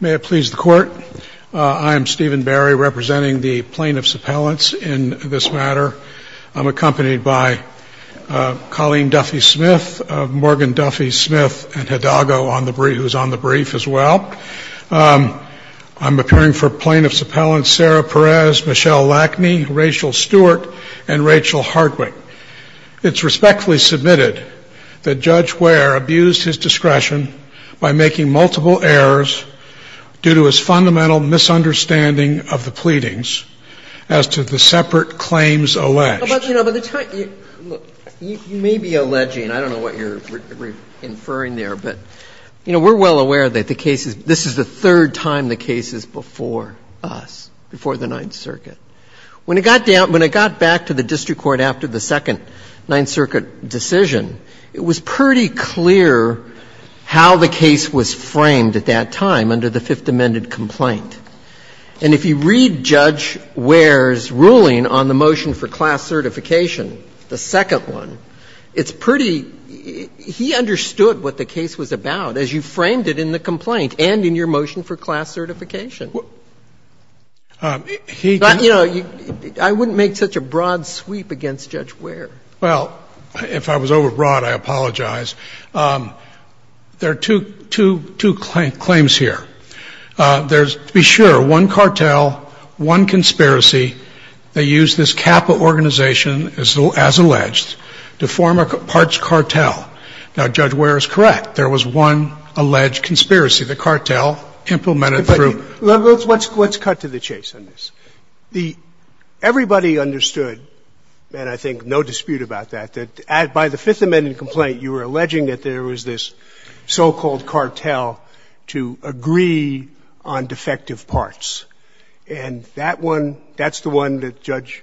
May it please the Court, I am Stephen Berry representing the plaintiffs' appellants in this matter. I'm accompanied by Colleen Duffy-Smith, Morgan Duffy-Smith, and Hidago, who's on the brief as well. I'm appearing for plaintiffs' appellants Sarah Perez, Michelle Lackney, Rachel Stewart, and Rachel Hardwick. It's respectfully submitted that Judge Ware abused his discretion by making multiple errors due to his fundamental misunderstanding of the pleadings as to the separate claims alleged. You may be alleging, I don't know what you're inferring there, but we're well aware that this is the third time the case is before us, before the Ninth Circuit. When it got down — when it got back to the district court after the second Ninth Circuit decision, it was pretty clear how the case was framed at that time under the Fifth Amendment complaint. And if you read Judge Ware's ruling on the motion for class certification, the second one, it's pretty — he understood what the case was about as you framed it in the complaint and in your motion for class certification. But, you know, I wouldn't make such a broad sweep against Judge Ware. Well, if I was overbroad, I apologize. There are two claims here. There's, to be sure, one cartel, one conspiracy. They used this CAPA organization as alleged to form a parts cartel. Now, Judge Ware is correct. There was one alleged conspiracy. The cartel implemented through — Let's cut to the chase on this. Everybody understood, and I think no dispute about that, that by the Fifth Amendment complaint, you were alleging that there was this so-called cartel to agree on defective parts, and that one, that's the one that Judge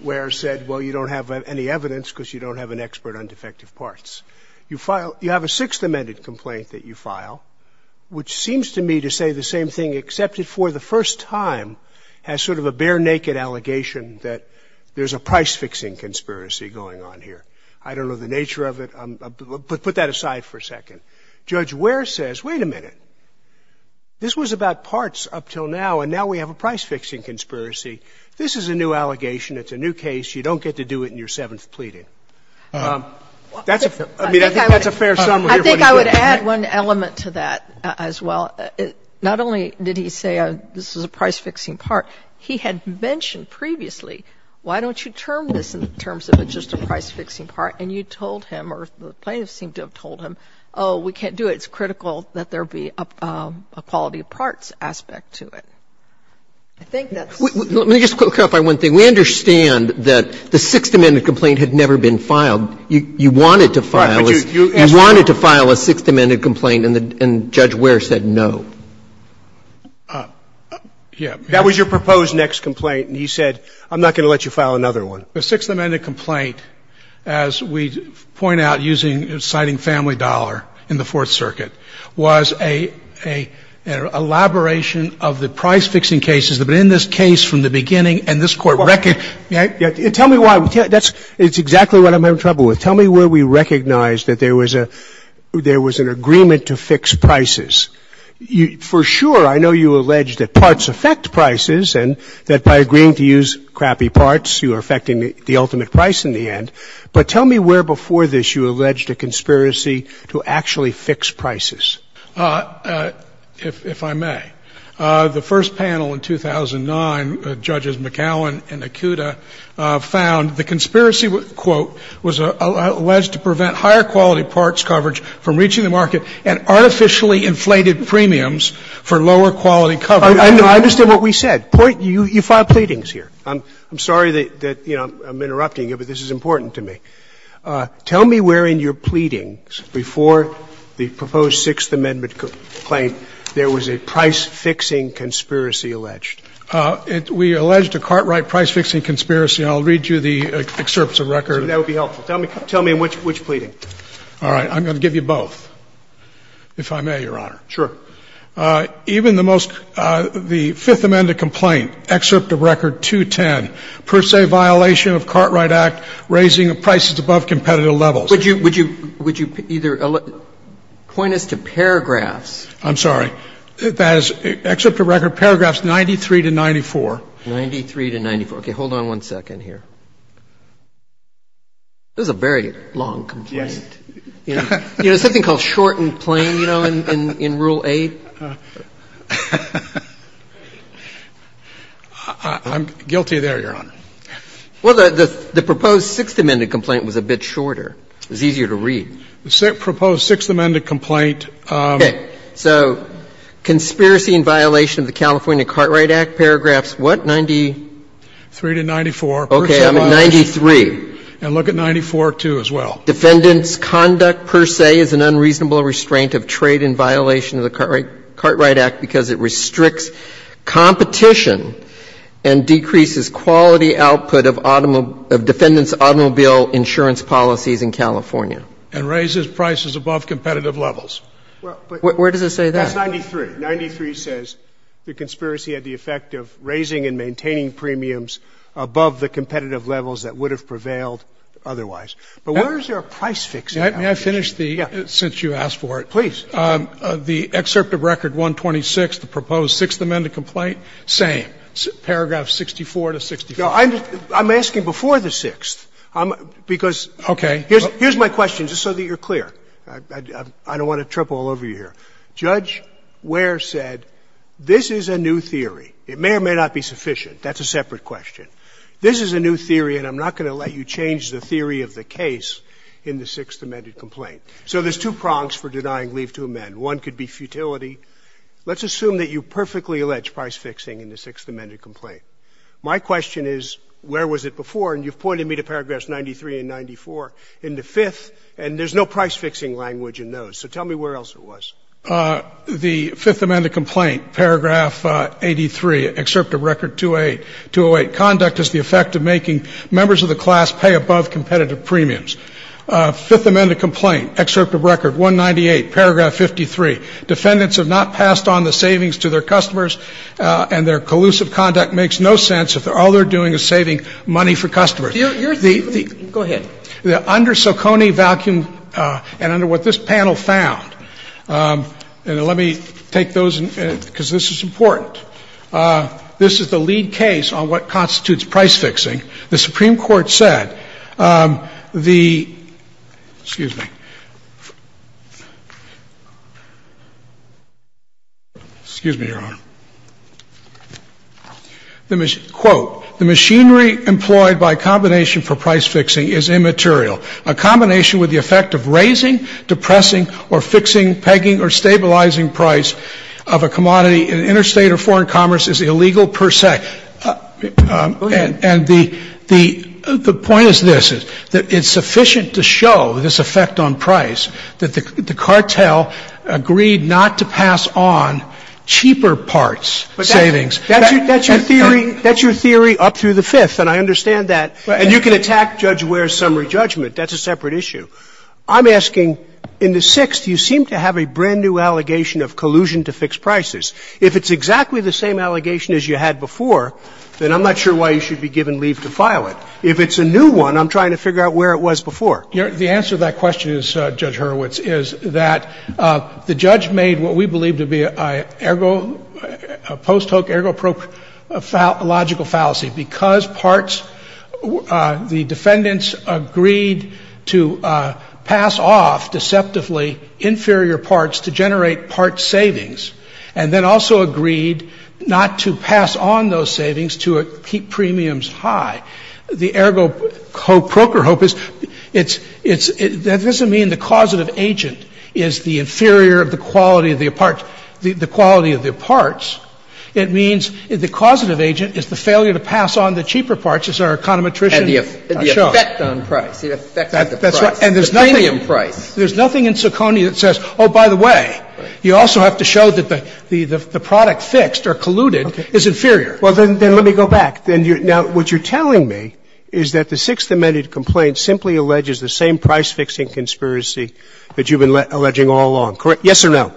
Ware said, well, you don't have any evidence because you don't have an expert on defective parts. You file — you have a Sixth Amendment complaint that you file, which seems to me to say the same thing, except it for the first time has sort of a bare-naked allegation that there's a price-fixing conspiracy going on here. I don't know the nature of it, but put that aside for a second. Judge Ware says, wait a minute. This was about parts up until now, and now we have a price-fixing conspiracy. This is a new allegation. It's a new case. You don't get to do it in your seventh pleading. That's a fair — I mean, I think that's a fair summary of what he said. I think I would add one element to that as well. Not only did he say this is a price-fixing part. He had mentioned previously, why don't you term this in terms of it's just a price-fixing part, and you told him, or the plaintiffs seem to have told him, oh, we can't do it. It's critical that there be a quality of parts aspect to it. I think that's the point. Let me just clarify one thing. We understand that the Sixth Amendment complaint had never been filed. You wanted to file a Sixth Amendment complaint, and Judge Ware said no. Yeah. That was your proposed next complaint, and he said, I'm not going to let you file another one. The Sixth Amendment complaint, as we point out, citing family dollar in the Fourth Circuit, was an elaboration of the price-fixing cases that have been in this case from the beginning, and this Court reckoned. Tell me why. That's exactly what I'm having trouble with. Tell me where we recognized that there was an agreement to fix prices. For sure, I know you alleged that parts affect prices and that by agreeing to use crappy parts, you are affecting the ultimate price in the end. But tell me where before this you alleged a conspiracy to actually fix prices. If I may. The first panel in 2009, Judges McAllen and Akuta found the conspiracy, quote, was alleged to prevent higher quality parts coverage from reaching the market and artificially inflated premiums for lower quality coverage. I understand what we said. You filed pleadings here. I'm sorry that, you know, I'm interrupting you, but this is important to me. Tell me where in your pleadings before the proposed Sixth Amendment complaint there was a price-fixing conspiracy alleged. We alleged a Cartwright price-fixing conspiracy. I'll read you the excerpts of record. That would be helpful. Tell me in which pleading. All right. I'm going to give you both, if I may, Your Honor. Sure. Even the most the Fifth Amendment complaint, excerpt of record 210, per se violation of Cartwright Act raising prices above competitive levels. Would you either point us to paragraphs? I'm sorry. That is excerpt of record, paragraphs 93 to 94. 93 to 94. Okay. Hold on one second here. This is a very long complaint. Yes. You know, something called short and plain, you know, in Rule 8. I'm guilty there, Your Honor. Well, the proposed Sixth Amendment complaint was a bit shorter. It was easier to read. The proposed Sixth Amendment complaint. Okay. So conspiracy in violation of the California Cartwright Act, paragraphs what, 90? 3 to 94, per se violation. Okay. I'm at 93. And look at 94, too, as well. Defendant's conduct, per se, is an unreasonable restraint of trade in violation of the Cartwright Act because it restricts competition and decreases quality output of defendants' automobile insurance policies in California. And raises prices above competitive levels. Where does it say that? That's 93. 93 says the conspiracy had the effect of raising and maintaining premiums above the competitive levels that would have prevailed otherwise. But where is there a price fix in that case? May I finish the, since you asked for it? Please. The excerpt of record 126, the proposed Sixth Amendment complaint, same. Paragraphs 64 to 65. I'm asking before the Sixth. Because here's my question, just so that you're clear. I don't want to trip all over you here. Judge Ware said this is a new theory. It may or may not be sufficient. That's a separate question. This is a new theory, and I'm not going to let you change the theory of the case in the Sixth Amendment complaint. So there's two prongs for denying leave to amend. One could be futility. Let's assume that you perfectly allege price fixing in the Sixth Amendment complaint. My question is, where was it before? And you've pointed me to paragraphs 93 and 94 in the Fifth, and there's no price fixing language in those. So tell me where else it was. The Fifth Amendment complaint, paragraph 83, excerpt of record 208. Conduct is the effect of making members of the class pay above competitive premiums. Fifth Amendment complaint, excerpt of record 198, paragraph 53. Defendants have not passed on the savings to their customers, and their collusive conduct makes no sense if all they're doing is saving money for customers. Go ahead. Under Socony vacuum, and under what this panel found, and let me take those because this is important. This is the lead case on what constitutes price fixing. The Supreme Court said the — excuse me. Excuse me, Your Honor. Quote, the machinery employed by combination for price fixing is immaterial. A combination with the effect of raising, depressing, or fixing, pegging, or stabilizing price of a commodity in interstate or foreign commerce is illegal per se. Go ahead. And the point is this, that it's sufficient to show this effect on price that the cartel agreed not to pass on cheaper parts' savings. That's your theory up through the Fifth, and I understand that. And you can attack Judge Ware's summary judgment. That's a separate issue. I'm asking, in the Sixth, you seem to have a brand-new allegation of collusion to fix prices. If it's exactly the same allegation as you had before, then I'm not sure why you should be given leave to file it. If it's a new one, I'm trying to figure out where it was before. The answer to that question is, Judge Hurwitz, is that the judge made what we believe to be a post-hoc, ergo-proker, logical fallacy. Because parts, the defendants agreed to pass off deceptively inferior parts to generate parts' savings, and then also agreed not to pass on those savings to keep premiums high. The ergo-proker hope is it's — that doesn't mean the causative agent is the inferior of the quality of the parts. The quality of the parts, it means the causative agent is the failure to pass on the cheaper parts, as our econometricians have shown. And the effect on price. The effect on the price. That's right. And there's nothing in Soconia that says, oh, by the way, you also have to show that the product fixed or colluded is inferior. Well, then let me go back. Now, what you're telling me is that the Sixth Amendment complaint simply alleges the same price-fixing conspiracy that you've been alleging all along, correct? Yes or no?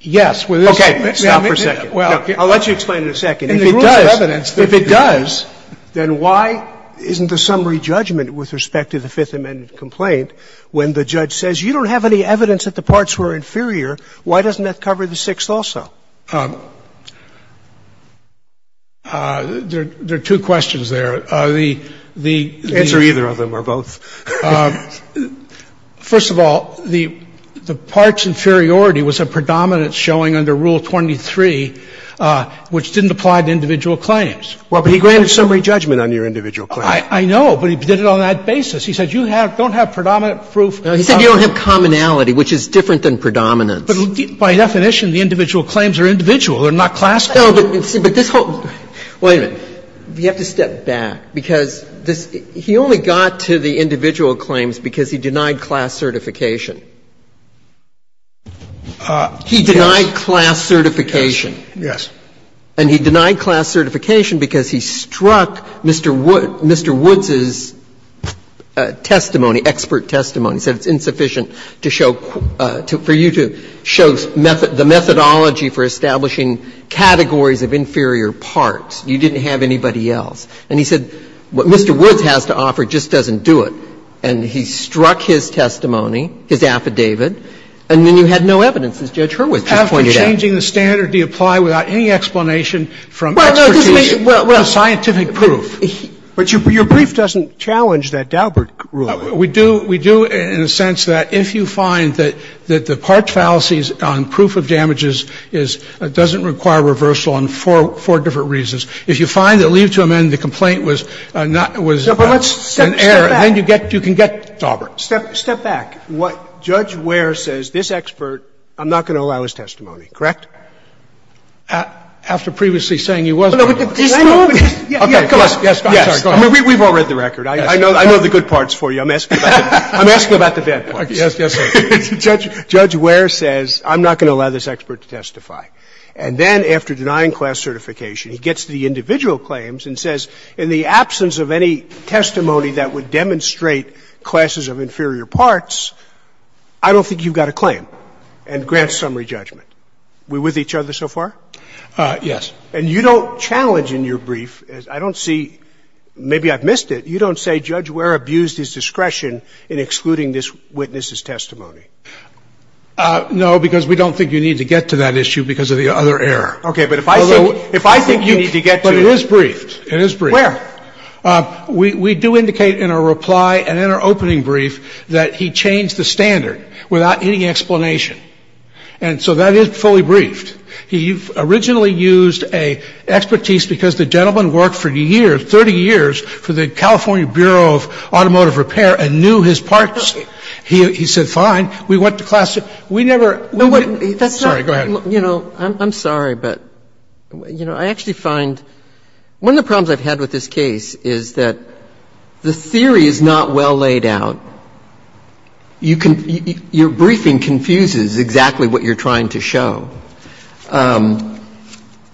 Yes. Okay. Stop for a second. I'll let you explain in a second. If it does, if it does, then why isn't the summary judgment with respect to the Fifth Amendment complaint when the judge says you don't have any evidence that the parts were inferior, why doesn't that cover the Sixth also? Well, there are two questions there. Answer either of them or both. First of all, the parts inferiority was a predominance showing under Rule 23, which didn't apply to individual claims. Well, but he granted summary judgment on your individual claim. I know, but he did it on that basis. He said you don't have predominant proof. He said you don't have commonality, which is different than predominance. But by definition, the individual claims are individual. They're not classified. No, but this whole – wait a minute. You have to step back, because this – he only got to the individual claims because he denied class certification. He denied class certification. Yes. And he denied class certification because he struck Mr. Woods' testimony, expert testimony. He said it's insufficient to show – for you to show the methodology for establishing categories of inferior parts. You didn't have anybody else. And he said what Mr. Woods has to offer just doesn't do it. And he struck his testimony, his affidavit, and then you had no evidence, as Judge Hurwitz just pointed out. After changing the standard, do you apply without any explanation from expertise to scientific proof? But your brief doesn't challenge that Daubert rule. We do – we do in a sense that if you find that the part fallacies on proof of damages is – doesn't require reversal on four different reasons, if you find that leave to amend the complaint was not – was an error, then you get – you can get Daubert. Step back. What Judge Ware says, this expert, I'm not going to allow his testimony, correct? After previously saying he wasn't going to allow it. I mean, we've all read the record. I know the good parts for you. I'm asking about the bad parts. Judge Ware says I'm not going to allow this expert to testify. And then after denying class certification, he gets to the individual claims and says in the absence of any testimony that would demonstrate classes of inferior parts, I don't think you've got a claim and grants summary judgment. We with each other so far? Yes. And you don't challenge in your brief – I don't see – maybe I've missed it. You don't say Judge Ware abused his discretion in excluding this witness's testimony. No, because we don't think you need to get to that issue because of the other error. Okay. But if I think you need to get to it. But it is briefed. It is briefed. Where? We do indicate in our reply and in our opening brief that he changed the standard without any explanation. And so that is fully briefed. He originally used a expertise because the gentleman worked for years, 30 years for the California Bureau of Automotive Repair and knew his parts. He said fine. We went to class – we never – sorry, go ahead. You know, I'm sorry, but, you know, I actually find – one of the problems I've had with this case is that the theory is not well laid out. You can – your briefing confuses exactly what you're trying to show. And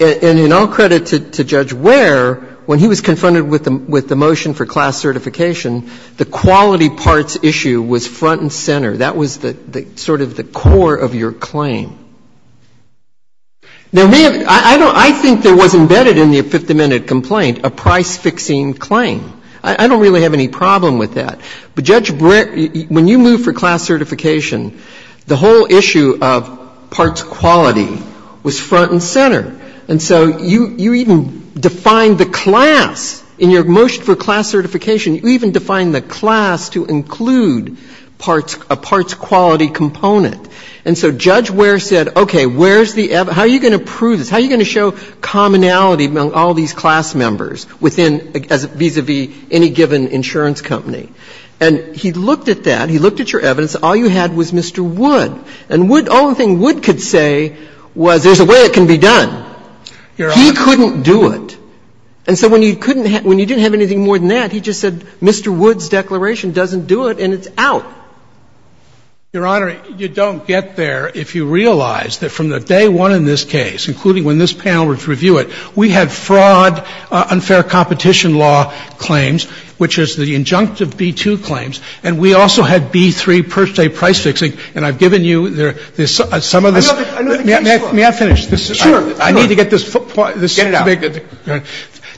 in all credit to Judge Ware, when he was confronted with the motion for class certification, the quality parts issue was front and center. That was sort of the core of your claim. Now, I don't – I think there was embedded in the 50-minute complaint a price-fixing claim. I don't really have any problem with that. But Judge – when you moved for class certification, the whole issue of parts quality was front and center. And so you even defined the class. In your motion for class certification, you even defined the class to include parts – a parts quality component. And so Judge Ware said, okay, where's the – how are you going to prove this? How are you going to show commonality among all these class members within – vis-à-vis any given insurance company? And he looked at that. He looked at your evidence. All you had was Mr. Wood. And Wood – all the thing Wood could say was there's a way it can be done. He couldn't do it. And so when you couldn't – when you didn't have anything more than that, he just said Mr. Wood's declaration doesn't do it and it's out. Your Honor, you don't get there if you realize that from the day one in this case, including when this panel would review it, we had fraud, unfair competition law claims, which is the injunctive B-2 claims, and we also had B-3 per se price fixing. And I've given you some of this. May I finish? I need to get this point. Get it out.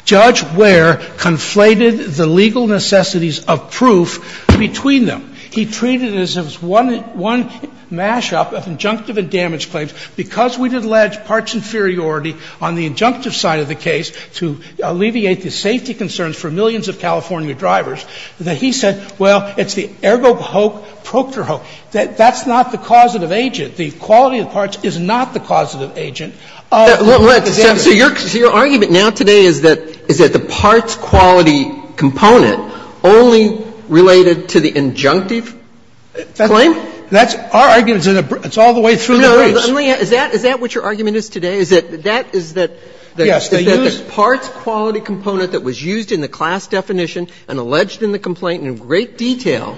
Judge Ware conflated the legal necessities of proof between them. He treated it as if it was one mash-up of injunctive and damage claims. Because we did allege parts inferiority on the injunctive side of the case to alleviate the safety concerns for millions of California drivers, that he said, well, it's the ergo hoc proctor hoc. That's not the causative agent. The quality of the parts is not the causative agent of the damage. So your argument now today is that the parts quality component only related to the injunctive claim? That's our argument. It's all the way through the briefs. Is that what your argument is today? That is that the parts quality component that was used in the class definition and alleged in the complaint in great detail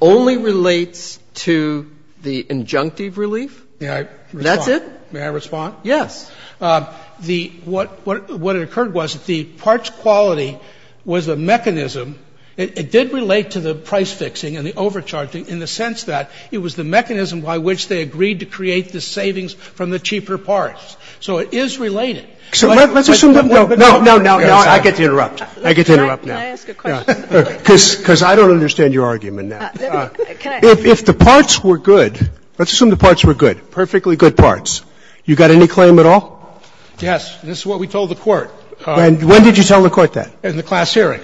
only relates to the injunctive relief? That's it? May I respond? Yes. What occurred was the parts quality was a mechanism. It did relate to the price fixing and the overcharging in the sense that it was the only thing that was used in the case. It did not relate to the overcharging. It did not relate to the overcharging. It did not relate to the savings from the cheaper parts. So it is related. So let's assume that no, no, no, no. I get to interrupt. I get to interrupt now. May I ask a question? Because I don't understand your argument now. If the parts were good, let's assume the parts were good, perfectly good parts. You got any claim at all? Yes. This is what we told the Court. When did you tell the Court that? In the class hearing.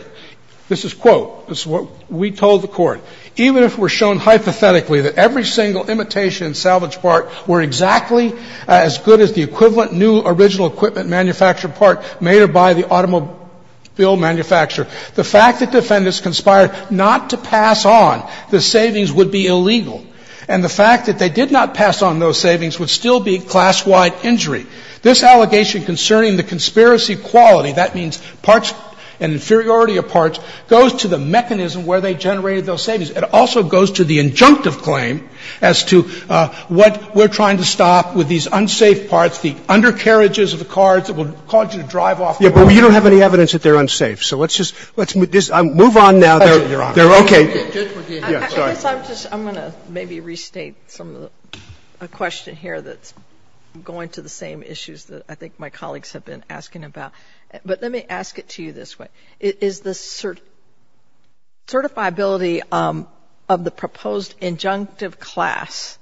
This is quote. This is what we told the Court. Even if it were shown hypothetically that every single imitation and salvage part were exactly as good as the equivalent new original equipment manufactured part made or by the automobile manufacturer, the fact that defendants conspired not to pass on the savings would be illegal, and the fact that they did not pass on those savings would still be class-wide injury. This allegation concerning the conspiracy quality, that means parts and inferiority of parts, goes to the mechanism where they generated those savings. It also goes to the injunctive claim as to what we're trying to stop with these unsafe parts, the undercarriages of the cars that will cause you to drive off the road. Yeah, but you don't have any evidence that they're unsafe. So let's just move on now. They're okay. I guess I'm just going to maybe restate some of the question here that's going to the same issues that I think my colleagues have been asking about. But let me ask it to you this way. Is the certifiability of the proposed injunctive class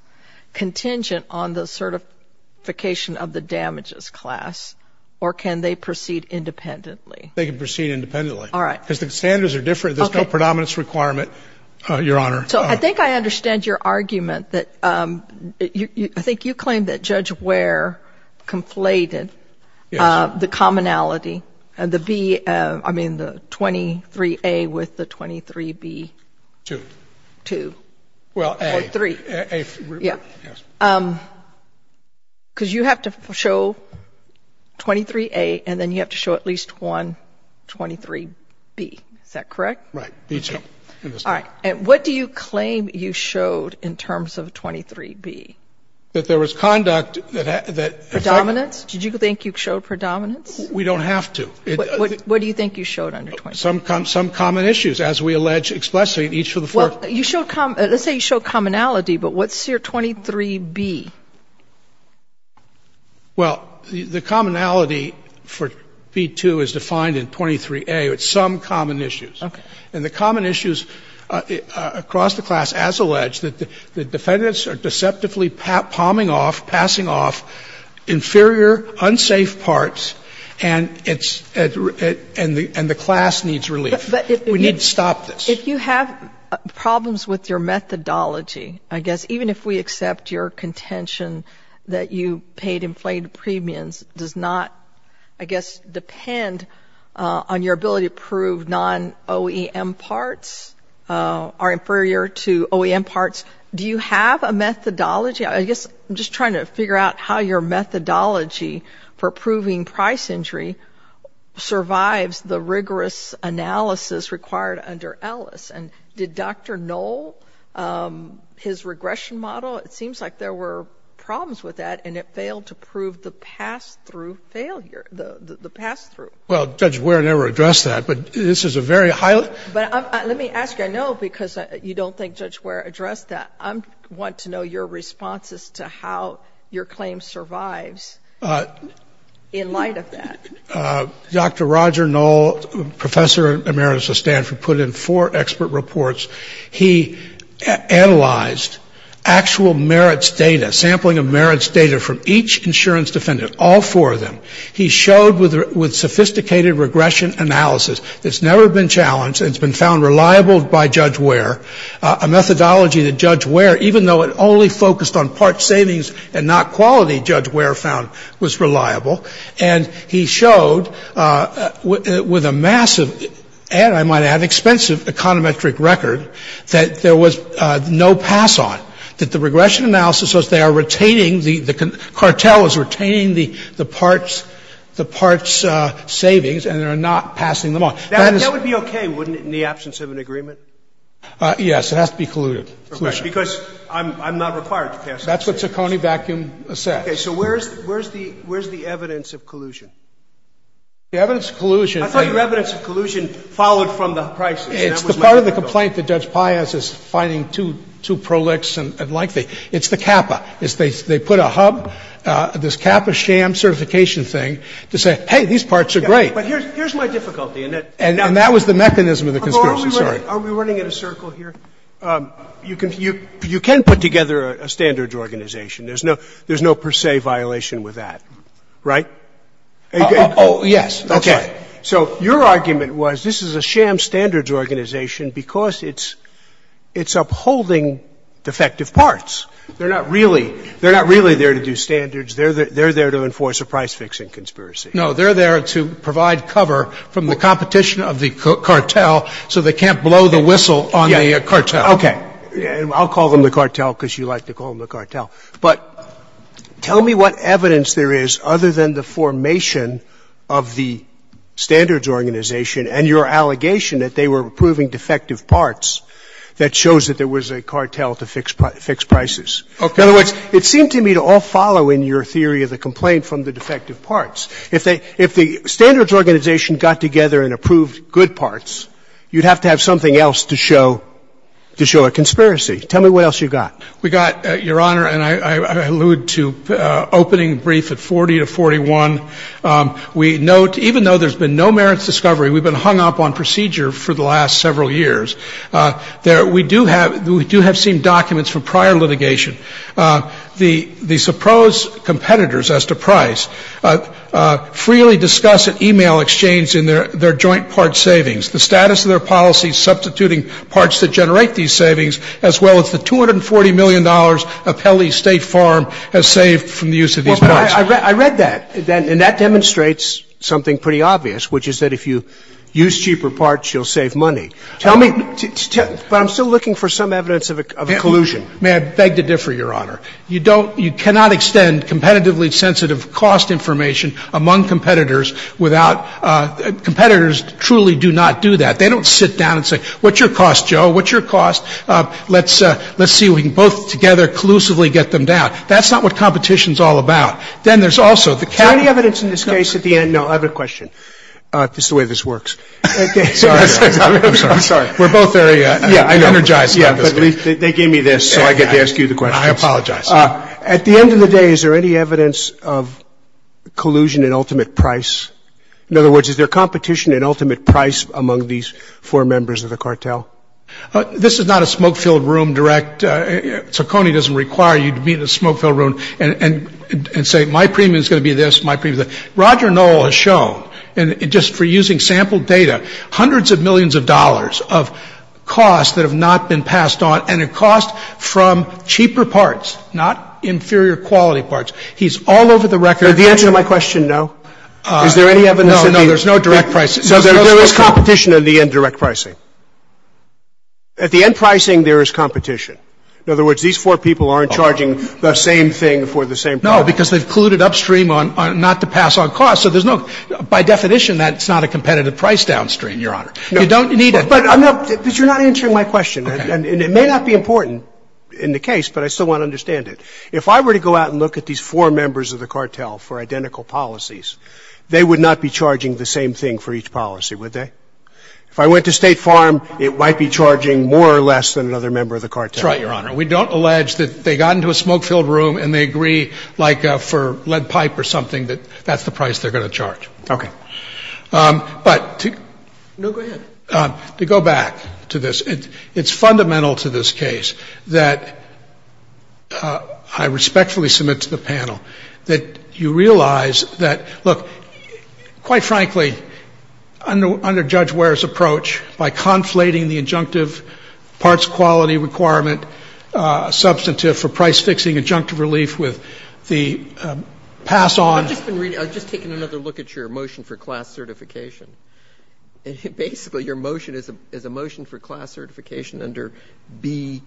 contingent on the certification of the damages class, or can they proceed independently? They can proceed independently. All right. Because the standards are different. There's no predominance requirement, Your Honor. So I think I understand your argument that I think you claim that Judge Ware conflated the commonality, the 23A with the 23B. Two. Two. Well, A. Or three. Yeah. Because you have to show 23A and then you have to show at least one 23B. Is that correct? Right. Okay. All right. And what do you claim you showed in terms of 23B? That there was conduct that had to be found. Predominance? Did you think you showed predominance? We don't have to. What do you think you showed under 23B? Some common issues, as we allege explicitly in each of the four. Well, you showed commonality, but what's your 23B? Well, the commonality for B2 is defined in 23A. It's some common issues. Okay. And the common issues across the class, as alleged, that the defendants are deceptively palming off, passing off inferior, unsafe parts, and the class needs relief. We need to stop this. But if you have problems with your methodology, I guess even if we accept your contention that you paid inflated premiums does not, I guess, depend on your ability to prove non-OEM parts are inferior to OEM parts. Do you have a methodology? I guess I'm just trying to figure out how your methodology for proving price injury survives the rigorous analysis required under Ellis. And did Dr. Knoll, his regression model, it seems like there were problems with that and it failed to prove the pass-through failure, the pass-through. Well, Judge Ware never addressed that, but this is a very high level. But let me ask you. I know because you don't think Judge Ware addressed that. I want to know your response as to how your claim survives in light of that. Dr. Roger Knoll, Professor Emeritus of Stanford, put in four expert reports. He analyzed actual merits data, sampling of merits data from each insurance defendant, all four of them. He showed with sophisticated regression analysis, it's never been challenged and it's been found reliable by Judge Ware, a methodology that Judge Ware, even though it only focused on part savings and not quality, Judge Ware found was reliable. And he showed with a massive, and I might add expensive, econometric record, that there was no pass-on, that the regression analysis was they are retaining the cartels, retaining the parts, the parts savings, and they are not passing them on. That is. That would be okay, wouldn't it, in the absence of an agreement? Yes. It has to be colluded. Because I'm not required to pass that. That's what Ciccone Vacuum says. Okay. So where is the evidence of collusion? The evidence of collusion. I thought your evidence of collusion followed from the prices. It's the part of the complaint that Judge Pius is finding too prolix and lengthy. It's the CAPA. It's they put a hub, this CAPA sham certification thing, to say, hey, these parts are great. But here's my difficulty. And that was the mechanism of the conspiracy. Are we running in a circle here? You can put together a standards organization. There's no per se violation with that, right? Oh, yes. Okay. So your argument was this is a sham standards organization because it's upholding defective parts. They're not really there to do standards. They're there to enforce a price-fixing conspiracy. No. They're there to provide cover from the competition of the cartel so they can't blow the whistle on the cartel. Okay. I'll call them the cartel because you like to call them the cartel. But tell me what evidence there is other than the formation of the standards organization and your allegation that they were approving defective parts that shows that there was a cartel to fix prices. Okay. In other words, it seemed to me to all follow in your theory of the complaint from the defective parts. If the standards organization got together and approved good parts, you'd have to have something else to show a conspiracy. Tell me what else you got. We got, Your Honor, and I allude to opening brief at 40 to 41. We note, even though there's been no merits discovery, we've been hung up on procedure for the last several years. We do have seen documents from prior litigation. The supposed competitors as to price freely discuss at e-mail exchange in their joint part savings the status of their policy substituting parts that generate these savings as well as the $240 million Appellee State Farm has saved from the use of these parts. Well, but I read that, and that demonstrates something pretty obvious, which is that if you use cheaper parts, you'll save money. Tell me, but I'm still looking for some evidence of a collusion. May I beg to differ, Your Honor? You don't, you cannot extend competitively sensitive cost information among competitors without, competitors truly do not do that. They don't sit down and say, what's your cost, Joe? What's your cost? Let's see if we can both together collusively get them down. That's not what competition's all about. Then there's also the cap. Is there any evidence in this case at the end? No. I have a question. It's the way this works. I'm sorry. We're both very energized. Yeah, but they gave me this, so I get to ask you the questions. I apologize. At the end of the day, is there any evidence of collusion in ultimate price? In other words, is there competition in ultimate price among these four members of the cartel? This is not a smoke-filled room direct, so Coney doesn't require you to be in a smoke-filled room and say, Roger Knoll has shown, and just for using sample data, hundreds of millions of dollars of costs that have not been passed on, and it costs from cheaper parts, not inferior quality parts. He's all over the record. The answer to my question, no. Is there any evidence? No, no. There's no direct pricing. So there is competition in the end direct pricing. At the end pricing, there is competition. In other words, these four people aren't charging the same thing for the same product. Because they've colluded upstream on not to pass on costs. So there's no, by definition, that's not a competitive price downstream, Your Honor. You don't need it. But you're not answering my question. And it may not be important in the case, but I still want to understand it. If I were to go out and look at these four members of the cartel for identical policies, they would not be charging the same thing for each policy, would they? If I went to State Farm, it might be charging more or less than another member of the cartel. That's right, Your Honor. We don't allege that they got into a smoke-filled room and they agree like for lead pipe or something that that's the price they're going to charge. Okay. But to go back to this, it's fundamental to this case that I respectfully submit to the panel that you realize that, look, quite frankly, under Judge Ware's approach, by conflating the injunctive parts quality requirement substantive for price-fixing injunctive relief with the pass-on. I've just been reading. I've just taken another look at your motion for class certification. Basically, your motion is a motion for class certification under B,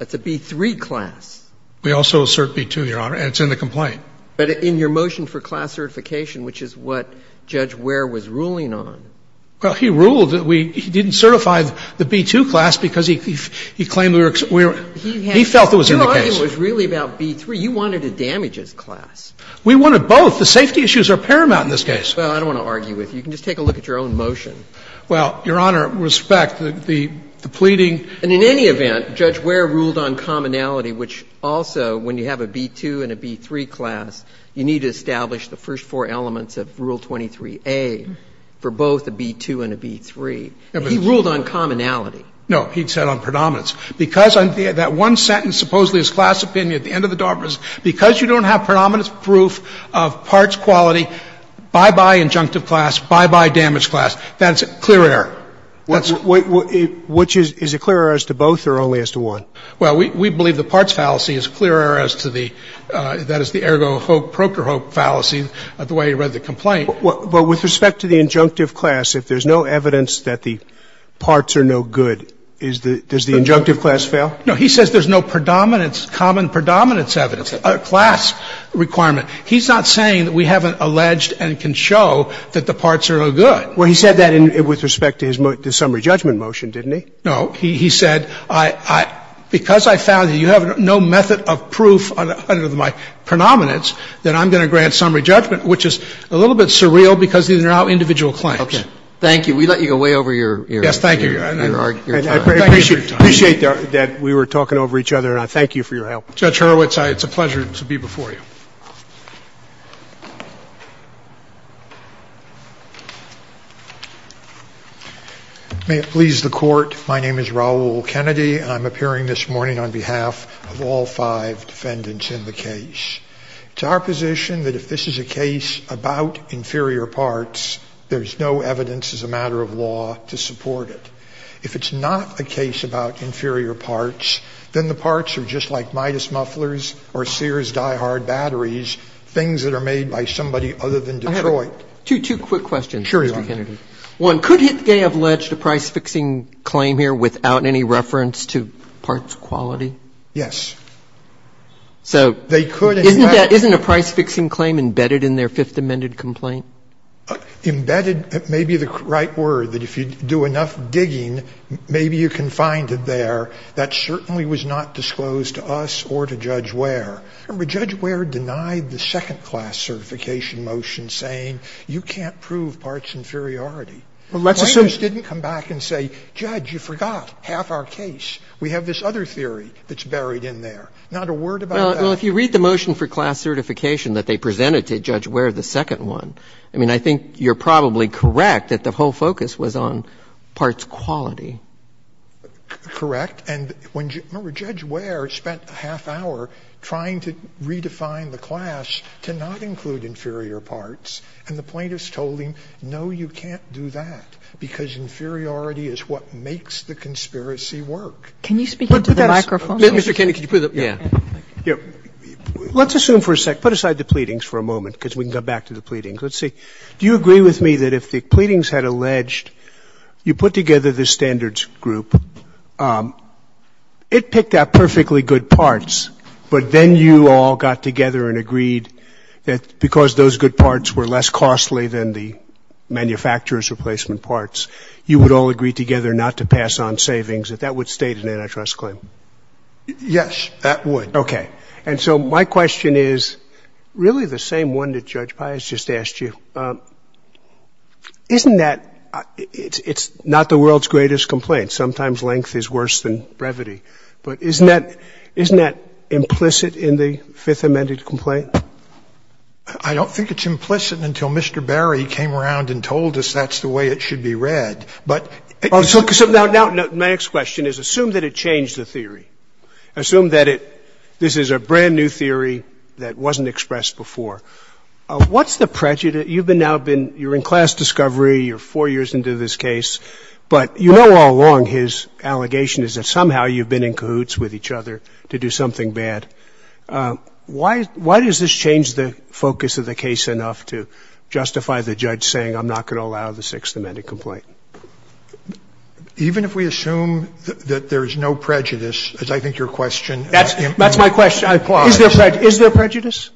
it's a B-3 class. We also assert B-2, Your Honor, and it's in the complaint. But in your motion for class certification, which is what Judge Ware was ruling under? Well, he ruled that we didn't certify the B-2 class because he claimed we were he felt it was in the case. Your argument was really about B-3. You wanted a damages class. We wanted both. The safety issues are paramount in this case. Well, I don't want to argue with you. You can just take a look at your own motion. Well, Your Honor, respect the pleading. And in any event, Judge Ware ruled on commonality, which also, when you have a B-2 and a B-3 class, you need to establish the first four elements of Rule 23A for both a B-2 and a B-3. He ruled on commonality. No. He said on predominance. Because that one sentence supposedly is class opinion at the end of the Dartmouth is because you don't have predominance proof of parts quality, bye-bye injunctive class, bye-bye damaged class. That's a clear error. Which is a clear error as to both or only as to one? Well, we believe the parts fallacy is a clear error as to the, that is, the ergo proctor hope fallacy, the way he read the complaint. Well, with respect to the injunctive class, if there's no evidence that the parts are no good, does the injunctive class fail? No. He says there's no predominance, common predominance evidence, class requirement. He's not saying that we haven't alleged and can show that the parts are no good. Well, he said that with respect to his summary judgment motion, didn't he? No. He said because I found that you have no method of proof under my predominance that I'm going to grant summary judgment, which is a little bit surreal because these are now individual claims. Okay. Thank you. We let you go way over your time. I appreciate that we were talking over each other, and I thank you for your help. Judge Hurwitz, it's a pleasure to be before you. May it please the court, my name is Raul Kennedy, and I'm appearing this morning on behalf of all five defendants in the case. It's our position that if this is a case about inferior parts, there's no evidence as a matter of law to support it. If it's not a case about inferior parts, then the parts are just like Midas and they don't have to be made by somebody other than Detroit. Two quick questions, Mr. Kennedy. Sure. One, could HitGay have alleged a price-fixing claim here without any reference to parts quality? Yes. So isn't a price-fixing claim embedded in their Fifth Amendment complaint? Embedded may be the right word, that if you do enough digging, maybe you can find it there. That certainly was not disclosed to us or to Judge Ware. Remember, Judge Ware denied the second class certification motion saying you can't prove parts inferiority. Well, let's assume you didn't come back and say, Judge, you forgot half our case. We have this other theory that's buried in there. Not a word about that. Well, if you read the motion for class certification that they presented to Judge Ware, the second one, I mean, I think you're probably correct that the whole focus was on parts quality. Correct. And remember, Judge Ware spent a half hour trying to redefine the class to not include inferior parts, and the plaintiffs told him, no, you can't do that, because inferiority is what makes the conspiracy work. Can you speak into the microphone? Mr. Kennedy, could you put it up? Yeah. Let's assume for a second. Put aside the pleadings for a moment, because we can go back to the pleadings. Let's see. Do you agree with me that if the pleadings had alleged you put together this standards group, it picked out perfectly good parts, but then you all got together and agreed that because those good parts were less costly than the manufacturer's replacement parts, you would all agree together not to pass on savings, that that would state an antitrust claim? Yes, that would. Okay. And so my question is really the same one that Judge Pius just asked you. Isn't that — it's not the world's greatest complaint. Sometimes length is worse than brevity. But isn't that implicit in the Fifth Amendment complaint? I don't think it's implicit until Mr. Barry came around and told us that's the way it should be read. But — So now my next question is, assume that it changed the theory. Assume that it — this is a brand-new theory that wasn't expressed before. What's the prejudice — you've now been — you're in class discovery, you're four years into this case, but you know all along his allegation is that somehow you've been in cahoots with each other to do something bad. Why does this change the focus of the case enough to justify the judge saying, I'm not going to allow the Sixth Amendment complaint? Even if we assume that there is no prejudice, as I think your question implies — That's my question. Is there prejudice?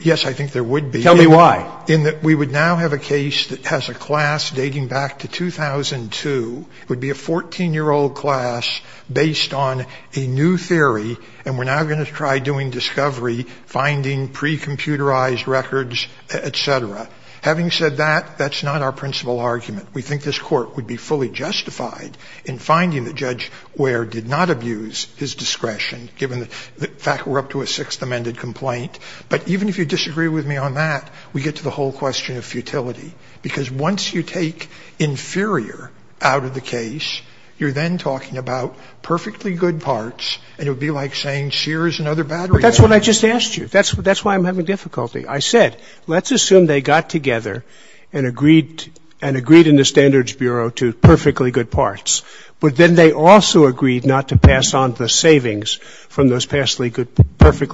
Yes, I think there would be. Tell me why. In that we would now have a case that has a class dating back to 2002. It would be a 14-year-old class based on a new theory, and we're now going to try doing discovery, finding pre-computerized records, et cetera. Having said that, that's not our principal argument. We think this Court would be fully justified in finding the judge where did not abuse his discretion, given the fact we're up to a Sixth Amendment complaint. But even if you disagree with me on that, we get to the whole question of futility, because once you take inferior out of the case, you're then talking about perfectly good parts, and it would be like saying Scheer is another battery. But that's what I just asked you. That's why I'm having difficulty. I said, let's assume they got together and agreed in the Standards Bureau to perfectly good parts, but then they also agreed not to pass on the savings from those perfectly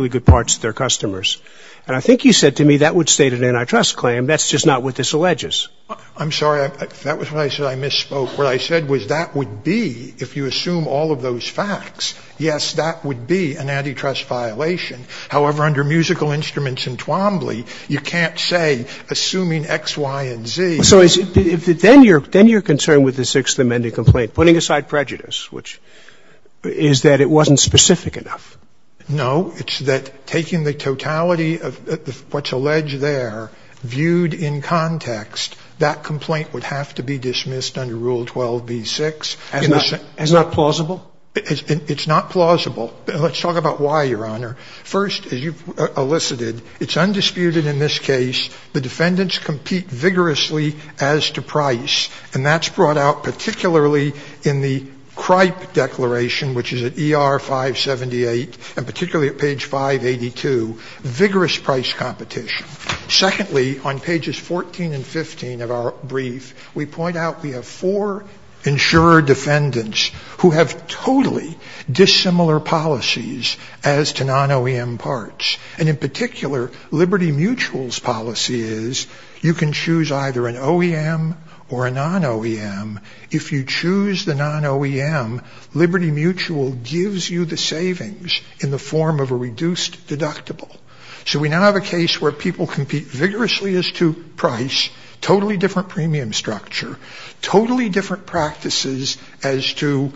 good parts to their customers. And I think you said to me that would state an antitrust claim. That's just not what this alleges. I'm sorry. That was when I said I misspoke. What I said was that would be, if you assume all of those facts, yes, that would be an antitrust violation. However, under musical instruments and Twombly, you can't say, assuming X, Y, and Z. So then you're concerned with the Sixth Amendment complaint, putting aside prejudice, which is that it wasn't specific enough. No. It's that taking the totality of what's alleged there viewed in context, that complaint would have to be dismissed under Rule 12b-6. As not plausible? It's not plausible. Let's talk about why, Your Honor. First, as you elicited, it's undisputed in this case the defendants compete vigorously as to price. And that's brought out particularly in the CRIPE declaration, which is at ER-578, and particularly at page 582, vigorous price competition. Secondly, on pages 14 and 15 of our brief, we point out we have four insurer defendants who have totally dissimilar policies as to non-OEM parts. And in particular, Liberty Mutual's policy is you can choose either an OEM or a non-OEM. If you choose the non-OEM, Liberty Mutual gives you the savings in the form of a reduced deductible. So we now have a case where people compete vigorously as to price, totally different premium structure, totally different practices as to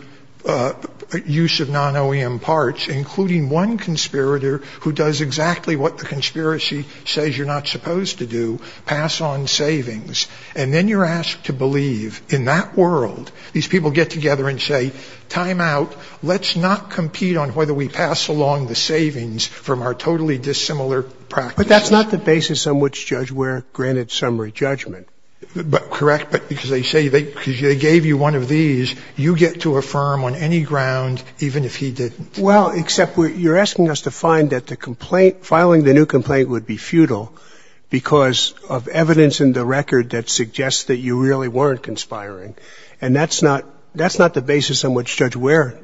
use of non-OEM parts, including one conspirator who does exactly what the conspiracy says you're not supposed to do, pass on savings. And then you're asked to believe, in that world, these people get together and say, time out. Let's not compete on whether we pass along the savings from our totally dissimilar practices. But that's not the basis on which Judge Ware granted summary judgment. Correct. But because they gave you one of these, you get to affirm on any ground, even if he didn't. Well, except you're asking us to find that the complaint, filing the new complaint, would be futile because of evidence in the record that suggests that you really weren't conspiring. And that's not the basis on which Judge Ware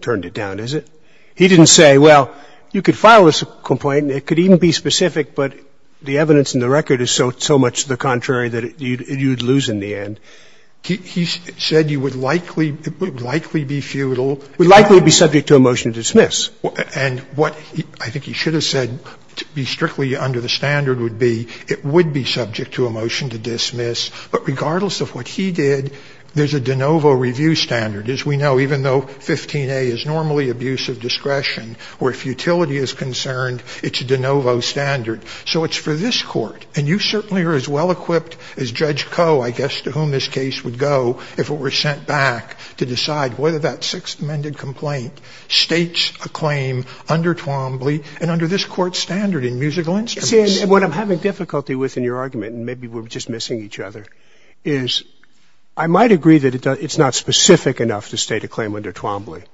turned it down, is it? He didn't say, well, you could file this complaint and it could even be specific, but the evidence in the record is so much the contrary that you'd lose in the end. He said you would likely be futile. We'd likely be subject to a motion to dismiss. And what I think he should have said, to be strictly under the standard, would be it would be subject to a motion to dismiss. But regardless of what he did, there's a de novo review standard. As we know, even though 15a is normally abuse of discretion, where futility is concerned, it's a de novo standard. So it's for this Court. And you certainly are as well equipped as Judge Coe, I guess, to whom this case would go if it were sent back to decide whether that Sixth Amendment complaint states a claim under Twombly and under this Court's standard in musical instruments. What I'm having difficulty with in your argument, and maybe we're just missing each other, is I might agree that it's not specific enough to state a claim under Twombly.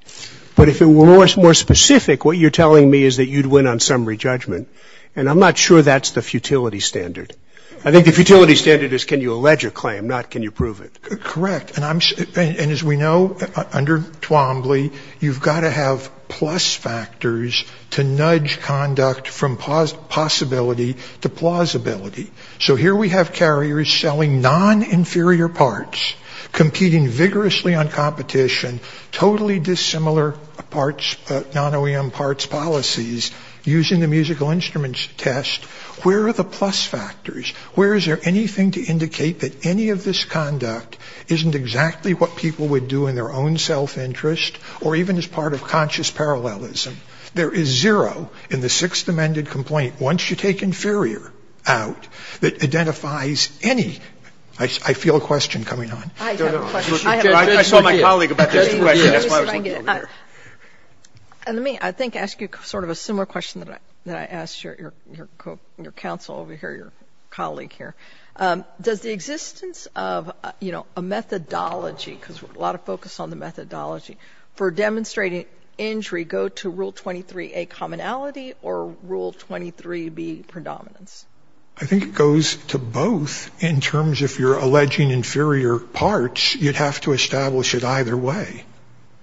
But if it were more specific, what you're telling me is that you'd win on summary judgment. And I'm not sure that's the futility standard. I think the futility standard is can you allege a claim, not can you prove it. Correct. And as we know, under Twombly, you've got to have plus factors to nudge conduct from possibility to plausibility. So here we have carriers selling non-inferior parts, competing vigorously on competition, totally dissimilar parts, non-OEM parts policies, using the musical instruments test. Where are the plus factors? Where is there anything to indicate that any of this conduct isn't exactly what people would do in their own self-interest or even as part of conscious parallelism? There is zero in the Sixth Amendment complaint, once you take inferior out, that identifies any. I feel a question coming on. I saw my colleague about this. That's why I was looking over there. Let me, I think, ask you sort of a similar question that I asked your counsel over here, your colleague here. Does the existence of, you know, a methodology, because a lot of focus on the methodology, for demonstrating injury go to Rule 23A, commonality, or Rule 23B, predominance? I think it goes to both in terms if you're alleging inferior parts, you'd have to establish it either way.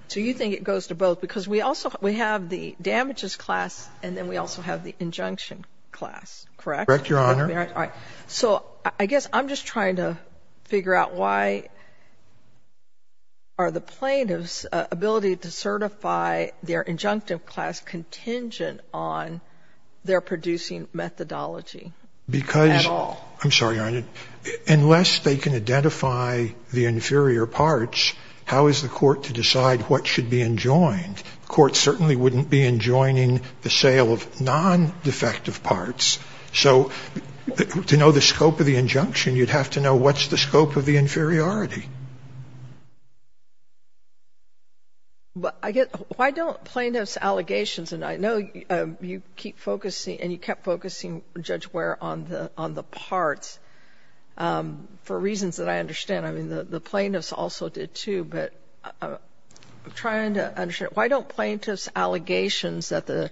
So you think it goes to both? Because we also, we have the damages class, and then we also have the injunction class, correct? Correct, Your Honor. All right. So I guess I'm just trying to figure out why are the plaintiffs' ability to certify their injunctive class contingent on their producing methodology at all? Because, I'm sorry, Your Honor, unless they can identify the inferior parts, how is the court to decide what should be enjoined? The court certainly wouldn't be enjoining the sale of non-defective parts. So to know the scope of the injunction, you'd have to know what's the scope of the inferiority. But I guess, why don't plaintiffs' allegations, and I know you keep focusing and you kept focusing, Judge Ware, on the parts for reasons that I understand. I mean, the plaintiffs also did, too. But I'm trying to understand, why don't plaintiffs' allegations that the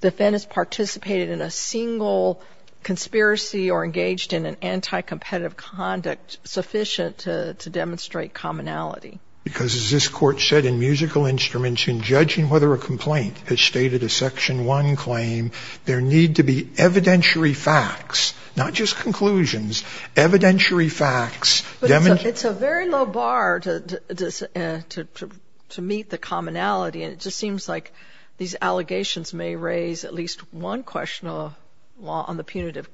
defendants participated in a single conspiracy or engaged in an anti-competitive conduct sufficient to demonstrate commonality? Because, as this Court said in Musical Instruments, in judging whether a complaint has stated a Section 1 claim, there need to be evidentiary facts, not just conclusions, evidentiary facts. But it's a very low bar to meet the commonality, and it just seems like these allegations may raise at least one question on the punitive class.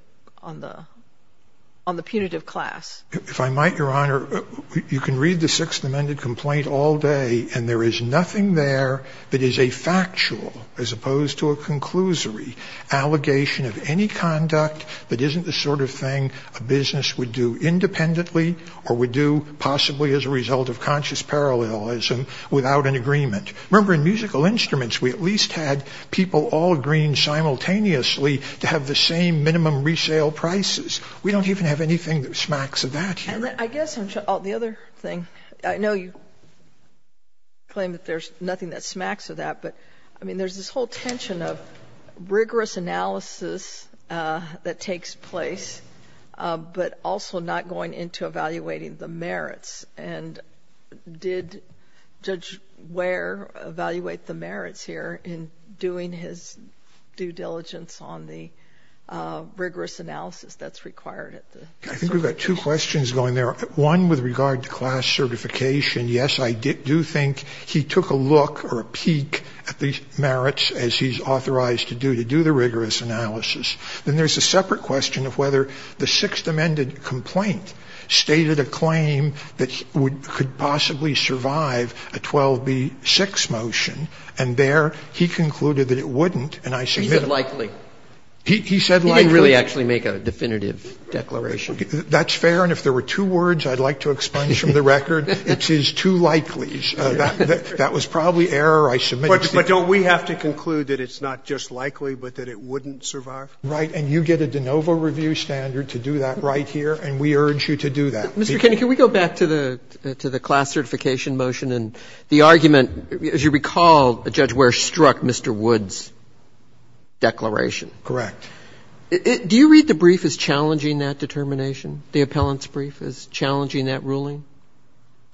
If I might, Your Honor, you can read the Sixth Amendment complaint all day, and there is nothing there that is a factual, as opposed to a conclusory, allegation of any conduct that isn't the sort of thing a business would do independently or would do possibly as a result of conscious parallelism without an agreement. Remember, in Musical Instruments, we at least had people all agreeing simultaneously to have the same minimum resale prices. We don't even have anything that smacks of that here. And I guess the other thing, I know you claim that there's nothing that smacks of that, but, I mean, there's this whole tension of rigorous analysis that takes place, but also not going into evaluating the merits. And did Judge Ware evaluate the merits here in doing his due diligence on the rigorous analysis that's required at the certification? I think we've got two questions going there, one with regard to class certification. Yes, I do think he took a look or a peek at the merits, as he's authorized to do, to do the rigorous analysis. Then there's a separate question of whether the Sixth Amendment complaint stated a claim that could possibly survive a 12b-6 motion, and there he concluded that it wouldn't, and I submit it. He said likely. He said likely. He didn't really actually make a definitive declaration. That's fair, and if there were two words I'd like to explain from the record, it is too likely. That was probably error, I submit. But don't we have to conclude that it's not just likely, but that it wouldn't survive? Right, and you get a de novo review standard to do that right here, and we urge you to do that. Mr. Kennedy, can we go back to the class certification motion and the argument, as you recall, Judge Ware struck Mr. Wood's declaration. Correct. Do you read the brief as challenging that determination, the appellant's brief as challenging that ruling?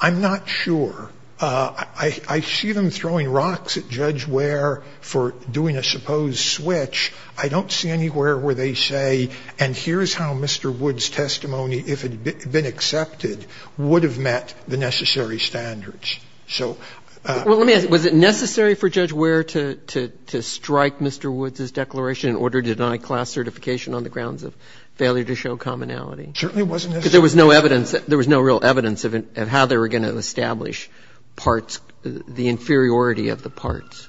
I'm not sure. I see them throwing rocks at Judge Ware for doing a supposed switch. I don't see anywhere where they say, and here's how Mr. Wood's testimony, if it had been accepted, would have met the necessary standards. So ---- Well, let me ask you, was it necessary for Judge Ware to strike Mr. Wood's declaration in order to deny class certification on the grounds of failure to show commonality? It certainly wasn't necessary. Because there was no evidence. There was no real evidence of how they were going to establish parts, the inferiority of the parts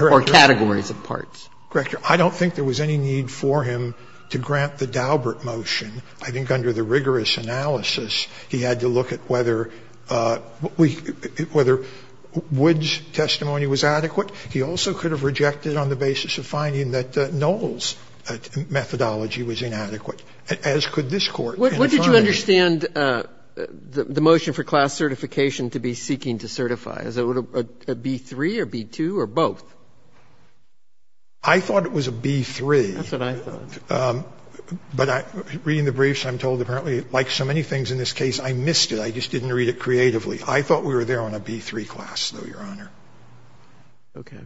or categories of parts. Correct. I don't think there was any need for him to grant the Daubert motion. I think under the rigorous analysis, he had to look at whether we ---- whether Wood's testimony was adequate. He also could have rejected on the basis of finding that Knoll's methodology was inadequate, as could this Court. And if I may ---- What did you understand the motion for class certification to be seeking to certify? Is it a B-3 or B-2 or both? I thought it was a B-3. That's what I thought. But reading the briefs, I'm told apparently, like so many things in this case, I missed it. I just didn't read it creatively. I thought we were there on a B-3 class, though, Your Honor. Okay.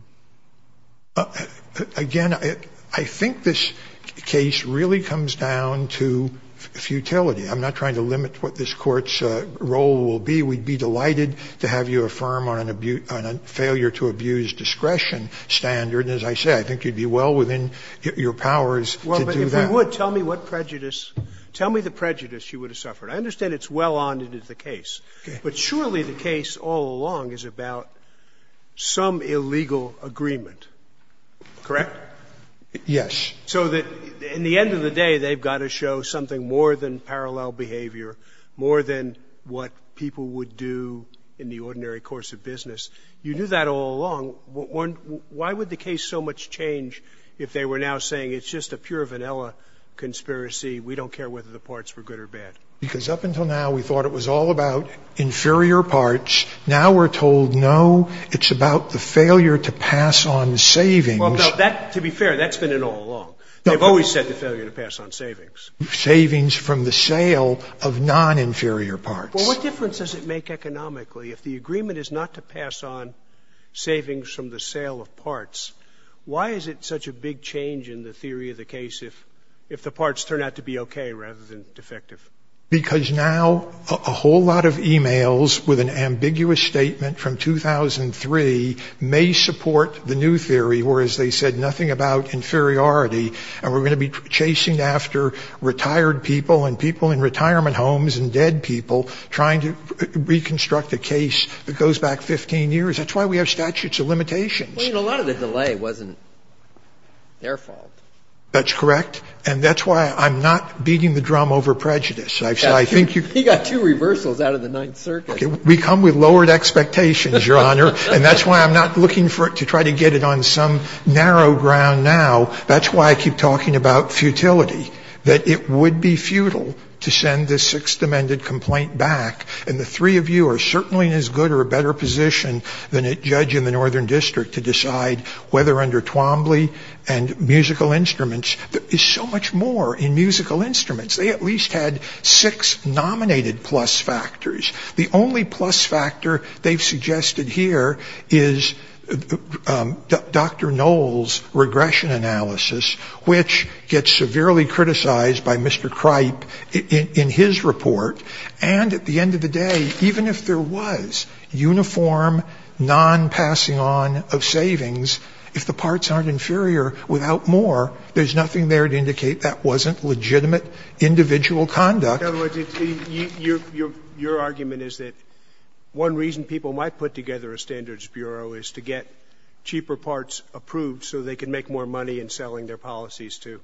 Again, I think this case really comes down to futility. I'm not trying to limit what this Court's role will be. We'd be delighted to have you affirm on a failure-to-abuse discretion standard, and as I said, I think you'd be well within your powers to do that. Well, but if you would, tell me what prejudice ---- tell me the prejudice you would have suffered. I understand it's well on into the case. Okay. But surely the case all along is about some illegal agreement, correct? Yes. So that in the end of the day, they've got to show something more than parallel behavior, more than what people would do in the ordinary course of business. You knew that all along. Why would the case so much change if they were now saying it's just a pure vanilla conspiracy, we don't care whether the parts were good or bad? Because up until now, we thought it was all about inferior parts. Now we're told, no, it's about the failure to pass on savings. Well, to be fair, that's been it all along. They've always said the failure to pass on savings. Savings from the sale of non-inferior parts. Well, what difference does it make economically if the agreement is not to pass on savings from the sale of parts? Why is it such a big change in the theory of the case if the parts turn out to be okay rather than defective? Because now a whole lot of e-mails with an ambiguous statement from 2003 may support the new theory where, as they said, nothing about inferiority and we're going to be chasing after retired people and people in retirement homes and dead people trying to reconstruct a case that goes back 15 years. That's why we have statutes of limitations. Well, you know, a lot of the delay wasn't their fault. That's correct. And that's why I'm not beating the drum over prejudice. He got two reversals out of the Ninth Circuit. We come with lowered expectations, Your Honor, and that's why I'm not looking to try to get it on some narrow ground now. That's why I keep talking about futility, that it would be futile to send this Sixth Amendment complaint back. And the three of you are certainly in as good or a better position than a judge in the Northern District to decide whether under Twombly and musical instruments there is so much more in musical instruments. They at least had six nominated plus factors. The only plus factor they've suggested here is Dr. Knoll's regression analysis, which gets severely criticized by Mr. Cripe in his report. And at the end of the day, even if there was uniform non-passing on of savings, if the parts aren't inferior without more, there's nothing there to indicate that wasn't legitimate individual conduct. In other words, your argument is that one reason people might put together a standards bureau is to get cheaper parts approved so they can make more money in selling their policies to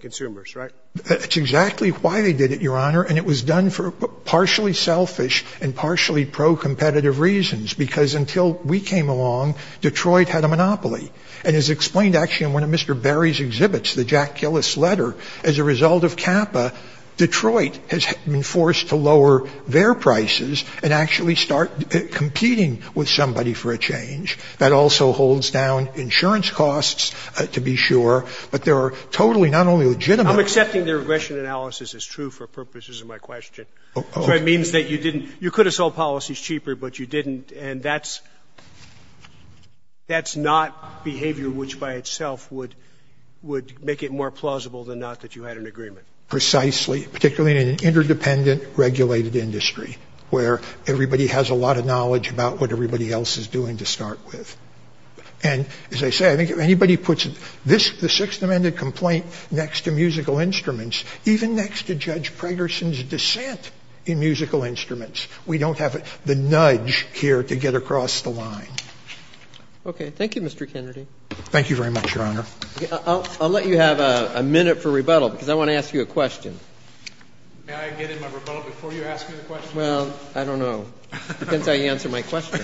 consumers, right? That's exactly why they did it, Your Honor. And it was done for partially selfish and partially pro-competitive reasons, because until we came along, Detroit had a monopoly. And as explained actually in one of Mr. Berry's exhibits, the Jack Gillis letter, as a result of CAPA, Detroit has been forced to lower their prices and actually start competing with somebody for a change. That also holds down insurance costs, to be sure. But there are totally not only legitimate. I'm accepting the regression analysis is true for purposes of my question. So it means that you couldn't have sold policies cheaper, but you didn't. And that's not behavior which by itself would make it more plausible than not that you had an agreement. Precisely. Particularly in an interdependent regulated industry where everybody has a lot of knowledge about what everybody else is doing to start with. And as I say, I think if anybody puts the Sixth Amendment complaint next to musical instruments, we don't have the nudge here to get across the line. Okay. Thank you, Mr. Kennedy. Thank you very much, Your Honor. I'll let you have a minute for rebuttal, because I want to ask you a question. May I get in my rebuttal before you ask me the question? Well, I don't know. Depends how you answer my question.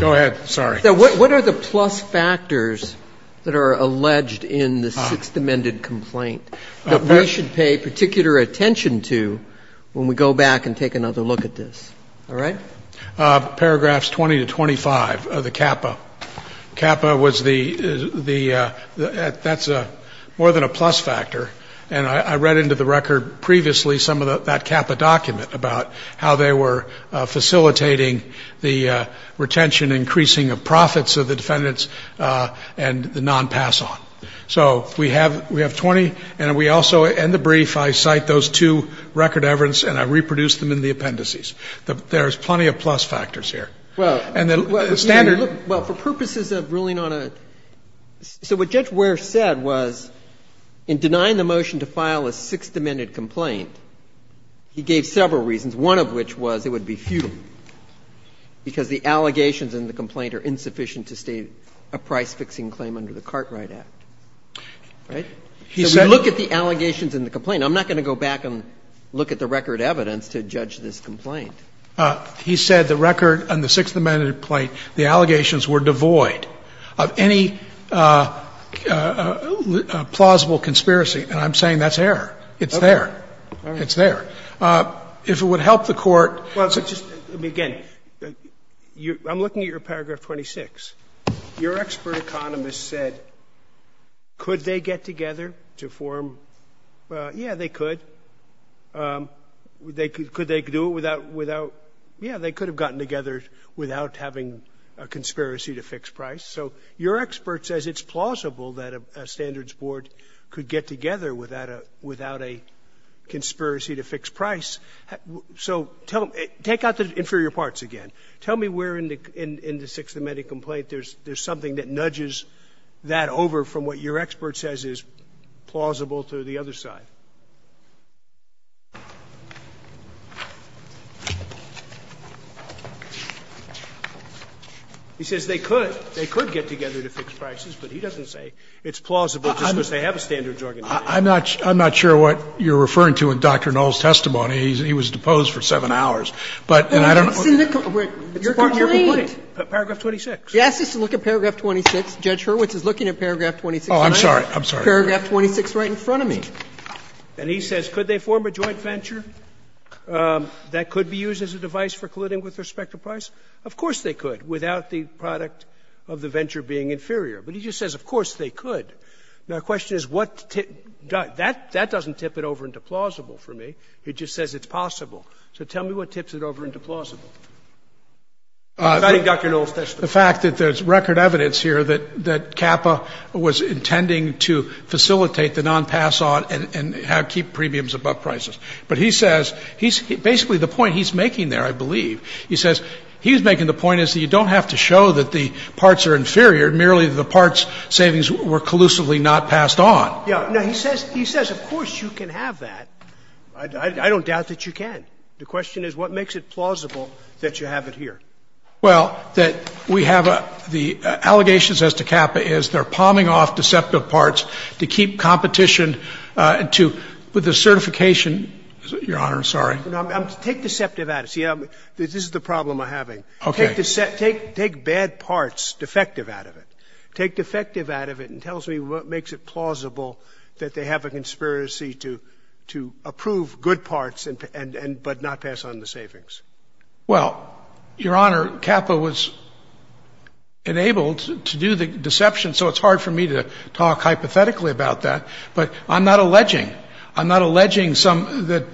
Go ahead. Sorry. What are the plus factors that are alleged in the Sixth Amendment complaint that we should pay particular attention to when we go back and take another look at this? All right? Paragraphs 20 to 25 of the CAPPA. CAPPA was the ‑‑ that's more than a plus factor. And I read into the record previously some of that CAPPA document about how they were facilitating the retention increasing of profits of the defendants and the non‑pass on. So we have 20, and we also, in the brief, I cite those two record evidence and I reproduce them in the appendices. There's plenty of plus factors here. Well, for purposes of ruling on a ‑‑ so what Judge Ware said was in denying the motion to file a Sixth Amendment complaint, he gave several reasons, one of which was it would be futile, because the allegations in the complaint are insufficient to state a price fixing claim under the Cartwright Act. Right? So we look at the allegations in the complaint. I'm not going to go back and look at the record evidence to judge this complaint. He said the record on the Sixth Amendment complaint, the allegations were devoid of any plausible conspiracy, and I'm saying that's error. It's there. It's there. If it would help the Court ‑‑ Again, I'm looking at your paragraph 26. Your expert economist said could they get together to form ‑‑ yeah, they could. Could they do it without ‑‑ yeah, they could have gotten together without having a conspiracy to fix price. So your expert says it's plausible that a standards board could get together without a conspiracy to fix price. So take out the inferior parts again. Tell me where in the Sixth Amendment complaint there's something that nudges that over from what your expert says is plausible to the other side. He says they could. They could get together to fix prices, but he doesn't say it's plausible just because they have a standards organization. I'm not ‑‑ I'm not sure what you're referring to in Dr. Knoll's testimony. He was deposed for 7 hours. But ‑‑ It's in the ‑‑ Your complaint? Paragraph 26. He asks us to look at paragraph 26. Judge Hurwitz is looking at paragraph 26. Oh, I'm sorry. I'm sorry. Paragraph 26 right in front of me. And he says could they form a joint venture that could be used as a device for colluding with respect to price? Of course they could, without the product of the venture being inferior. But he just says of course they could. Now, the question is what ‑‑ that doesn't tip it over into plausible for me. It just says it's possible. So tell me what tips it over into plausible. If I didn't get Dr. Knoll's testimony. The fact that there's record evidence here that CAPA was intending to facilitate the nonpass on and keep premiums above prices. But he says he's ‑‑ basically the point he's making there, I believe, he says he's making the point is that you don't have to show that the parts are inferior, merely the parts savings were collusively not passed on. Yeah. No, he says of course you can have that. I don't doubt that you can. The question is what makes it plausible that you have it here? Well, that we have the allegations as to CAPA is they're palming off deceptive parts to keep competition to ‑‑ with the certification ‑‑ Your Honor, sorry. Take deceptive out of it. See, this is the problem I'm having. Okay. Take bad parts, defective out of it. Take defective out of it and tell me what makes it plausible that they have a conspiracy to approve good parts and ‑‑ but not pass on the savings. Well, Your Honor, CAPA was enabled to do the deception, so it's hard for me to talk hypothetically about that, but I'm not alleging. I'm not alleging that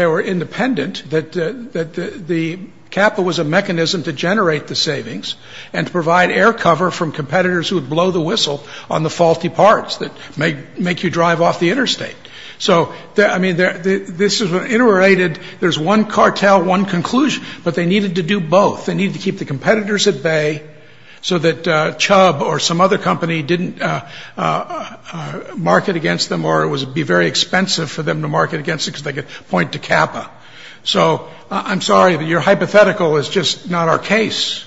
they were independent, that the CAPA was a mechanism to generate the savings and to provide air cover from competitors who would blow the whistle on the faulty parts that make you drive off the interstate. So, I mean, this is interrelated. There's one cartel, one conclusion, but they needed to do both. They needed to keep the competitors at bay so that Chubb or some other company didn't market against them or it would be very expensive for them to market against them because they could point to CAPA. So I'm sorry, but your hypothetical is just not our case.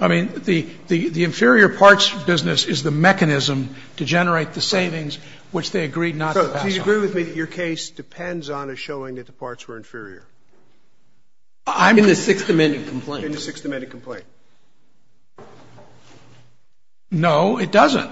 I mean, the inferior parts business is the mechanism to generate the savings, which they agreed not to pass on. So do you agree with me that your case depends on us showing that the parts were inferior? In the Sixth Amendment complaint. In the Sixth Amendment complaint. No, it doesn't.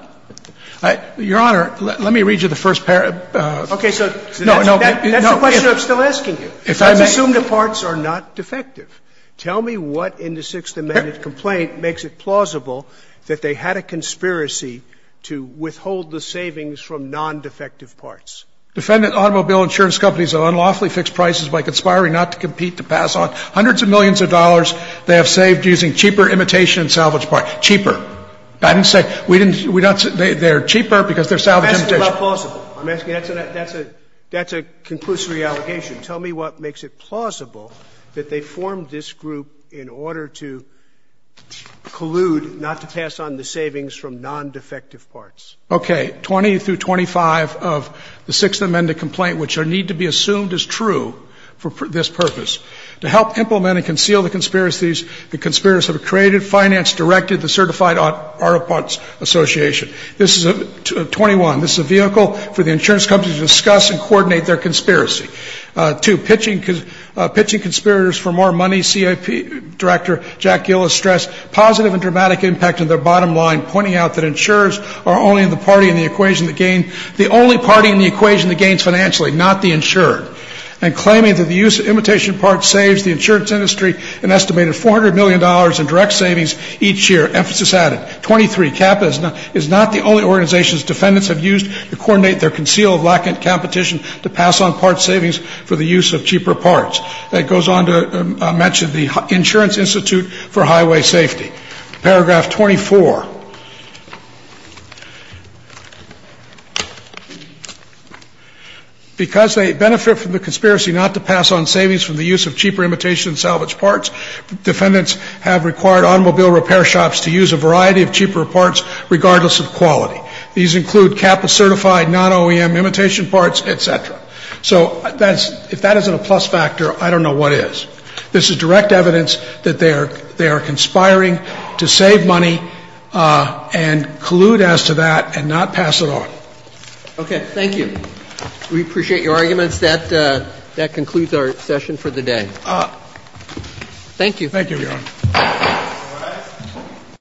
Your Honor, let me read you the first paragraph. Okay. So that's the question I'm still asking you. If I may. Let's assume the parts are not defective. Tell me what in the Sixth Amendment complaint makes it plausible that they had a conspiracy to withhold the savings from nondefective parts. Defendant automobile insurance companies have unlawfully fixed prices by conspiring not to compete to pass on hundreds of millions of dollars they have saved using cheaper imitation and salvage parts. Cheaper. I didn't say they're cheaper because they're salvage imitation. That's not plausible. That's a conclusory allegation. Tell me what makes it plausible that they formed this group in order to collude not to pass on the savings from nondefective parts. Okay. So that's 20 through 25 of the Sixth Amendment complaint, which need to be assumed as true for this purpose. To help implement and conceal the conspiracies, the conspirators have created, financed, directed the Certified Auto Parts Association. This is 21. This is a vehicle for the insurance companies to discuss and coordinate their conspiracy. Two, pitching conspirators for more money, CIP Director Jack Gillis stressed positive and dramatic impact on their bottom line, pointing out that insurers are only the party in the equation that gains the only party in the equation that gains financially, not the insured, and claiming that the use of imitation parts saves the insurance industry an estimated $400 million in direct savings each year. Emphasis added. Twenty-three, CAPA is not the only organization defendants have used to coordinate their concealed lack of competition to pass on parts savings for the use of cheaper parts. That goes on to mention the Insurance Institute for Highway Safety. Paragraph 24. Because they benefit from the conspiracy not to pass on savings for the use of cheaper imitation salvage parts, defendants have required automobile repair shops to use a variety of cheaper parts regardless of quality. These include CAPA-certified non-OEM imitation parts, et cetera. So if that isn't a plus factor, I don't know what is. This is direct evidence that they are conspiring to save money and collude as to that and not pass it on. Okay. Thank you. We appreciate your arguments. That concludes our session for the day. Thank you. Thank you, Your Honor.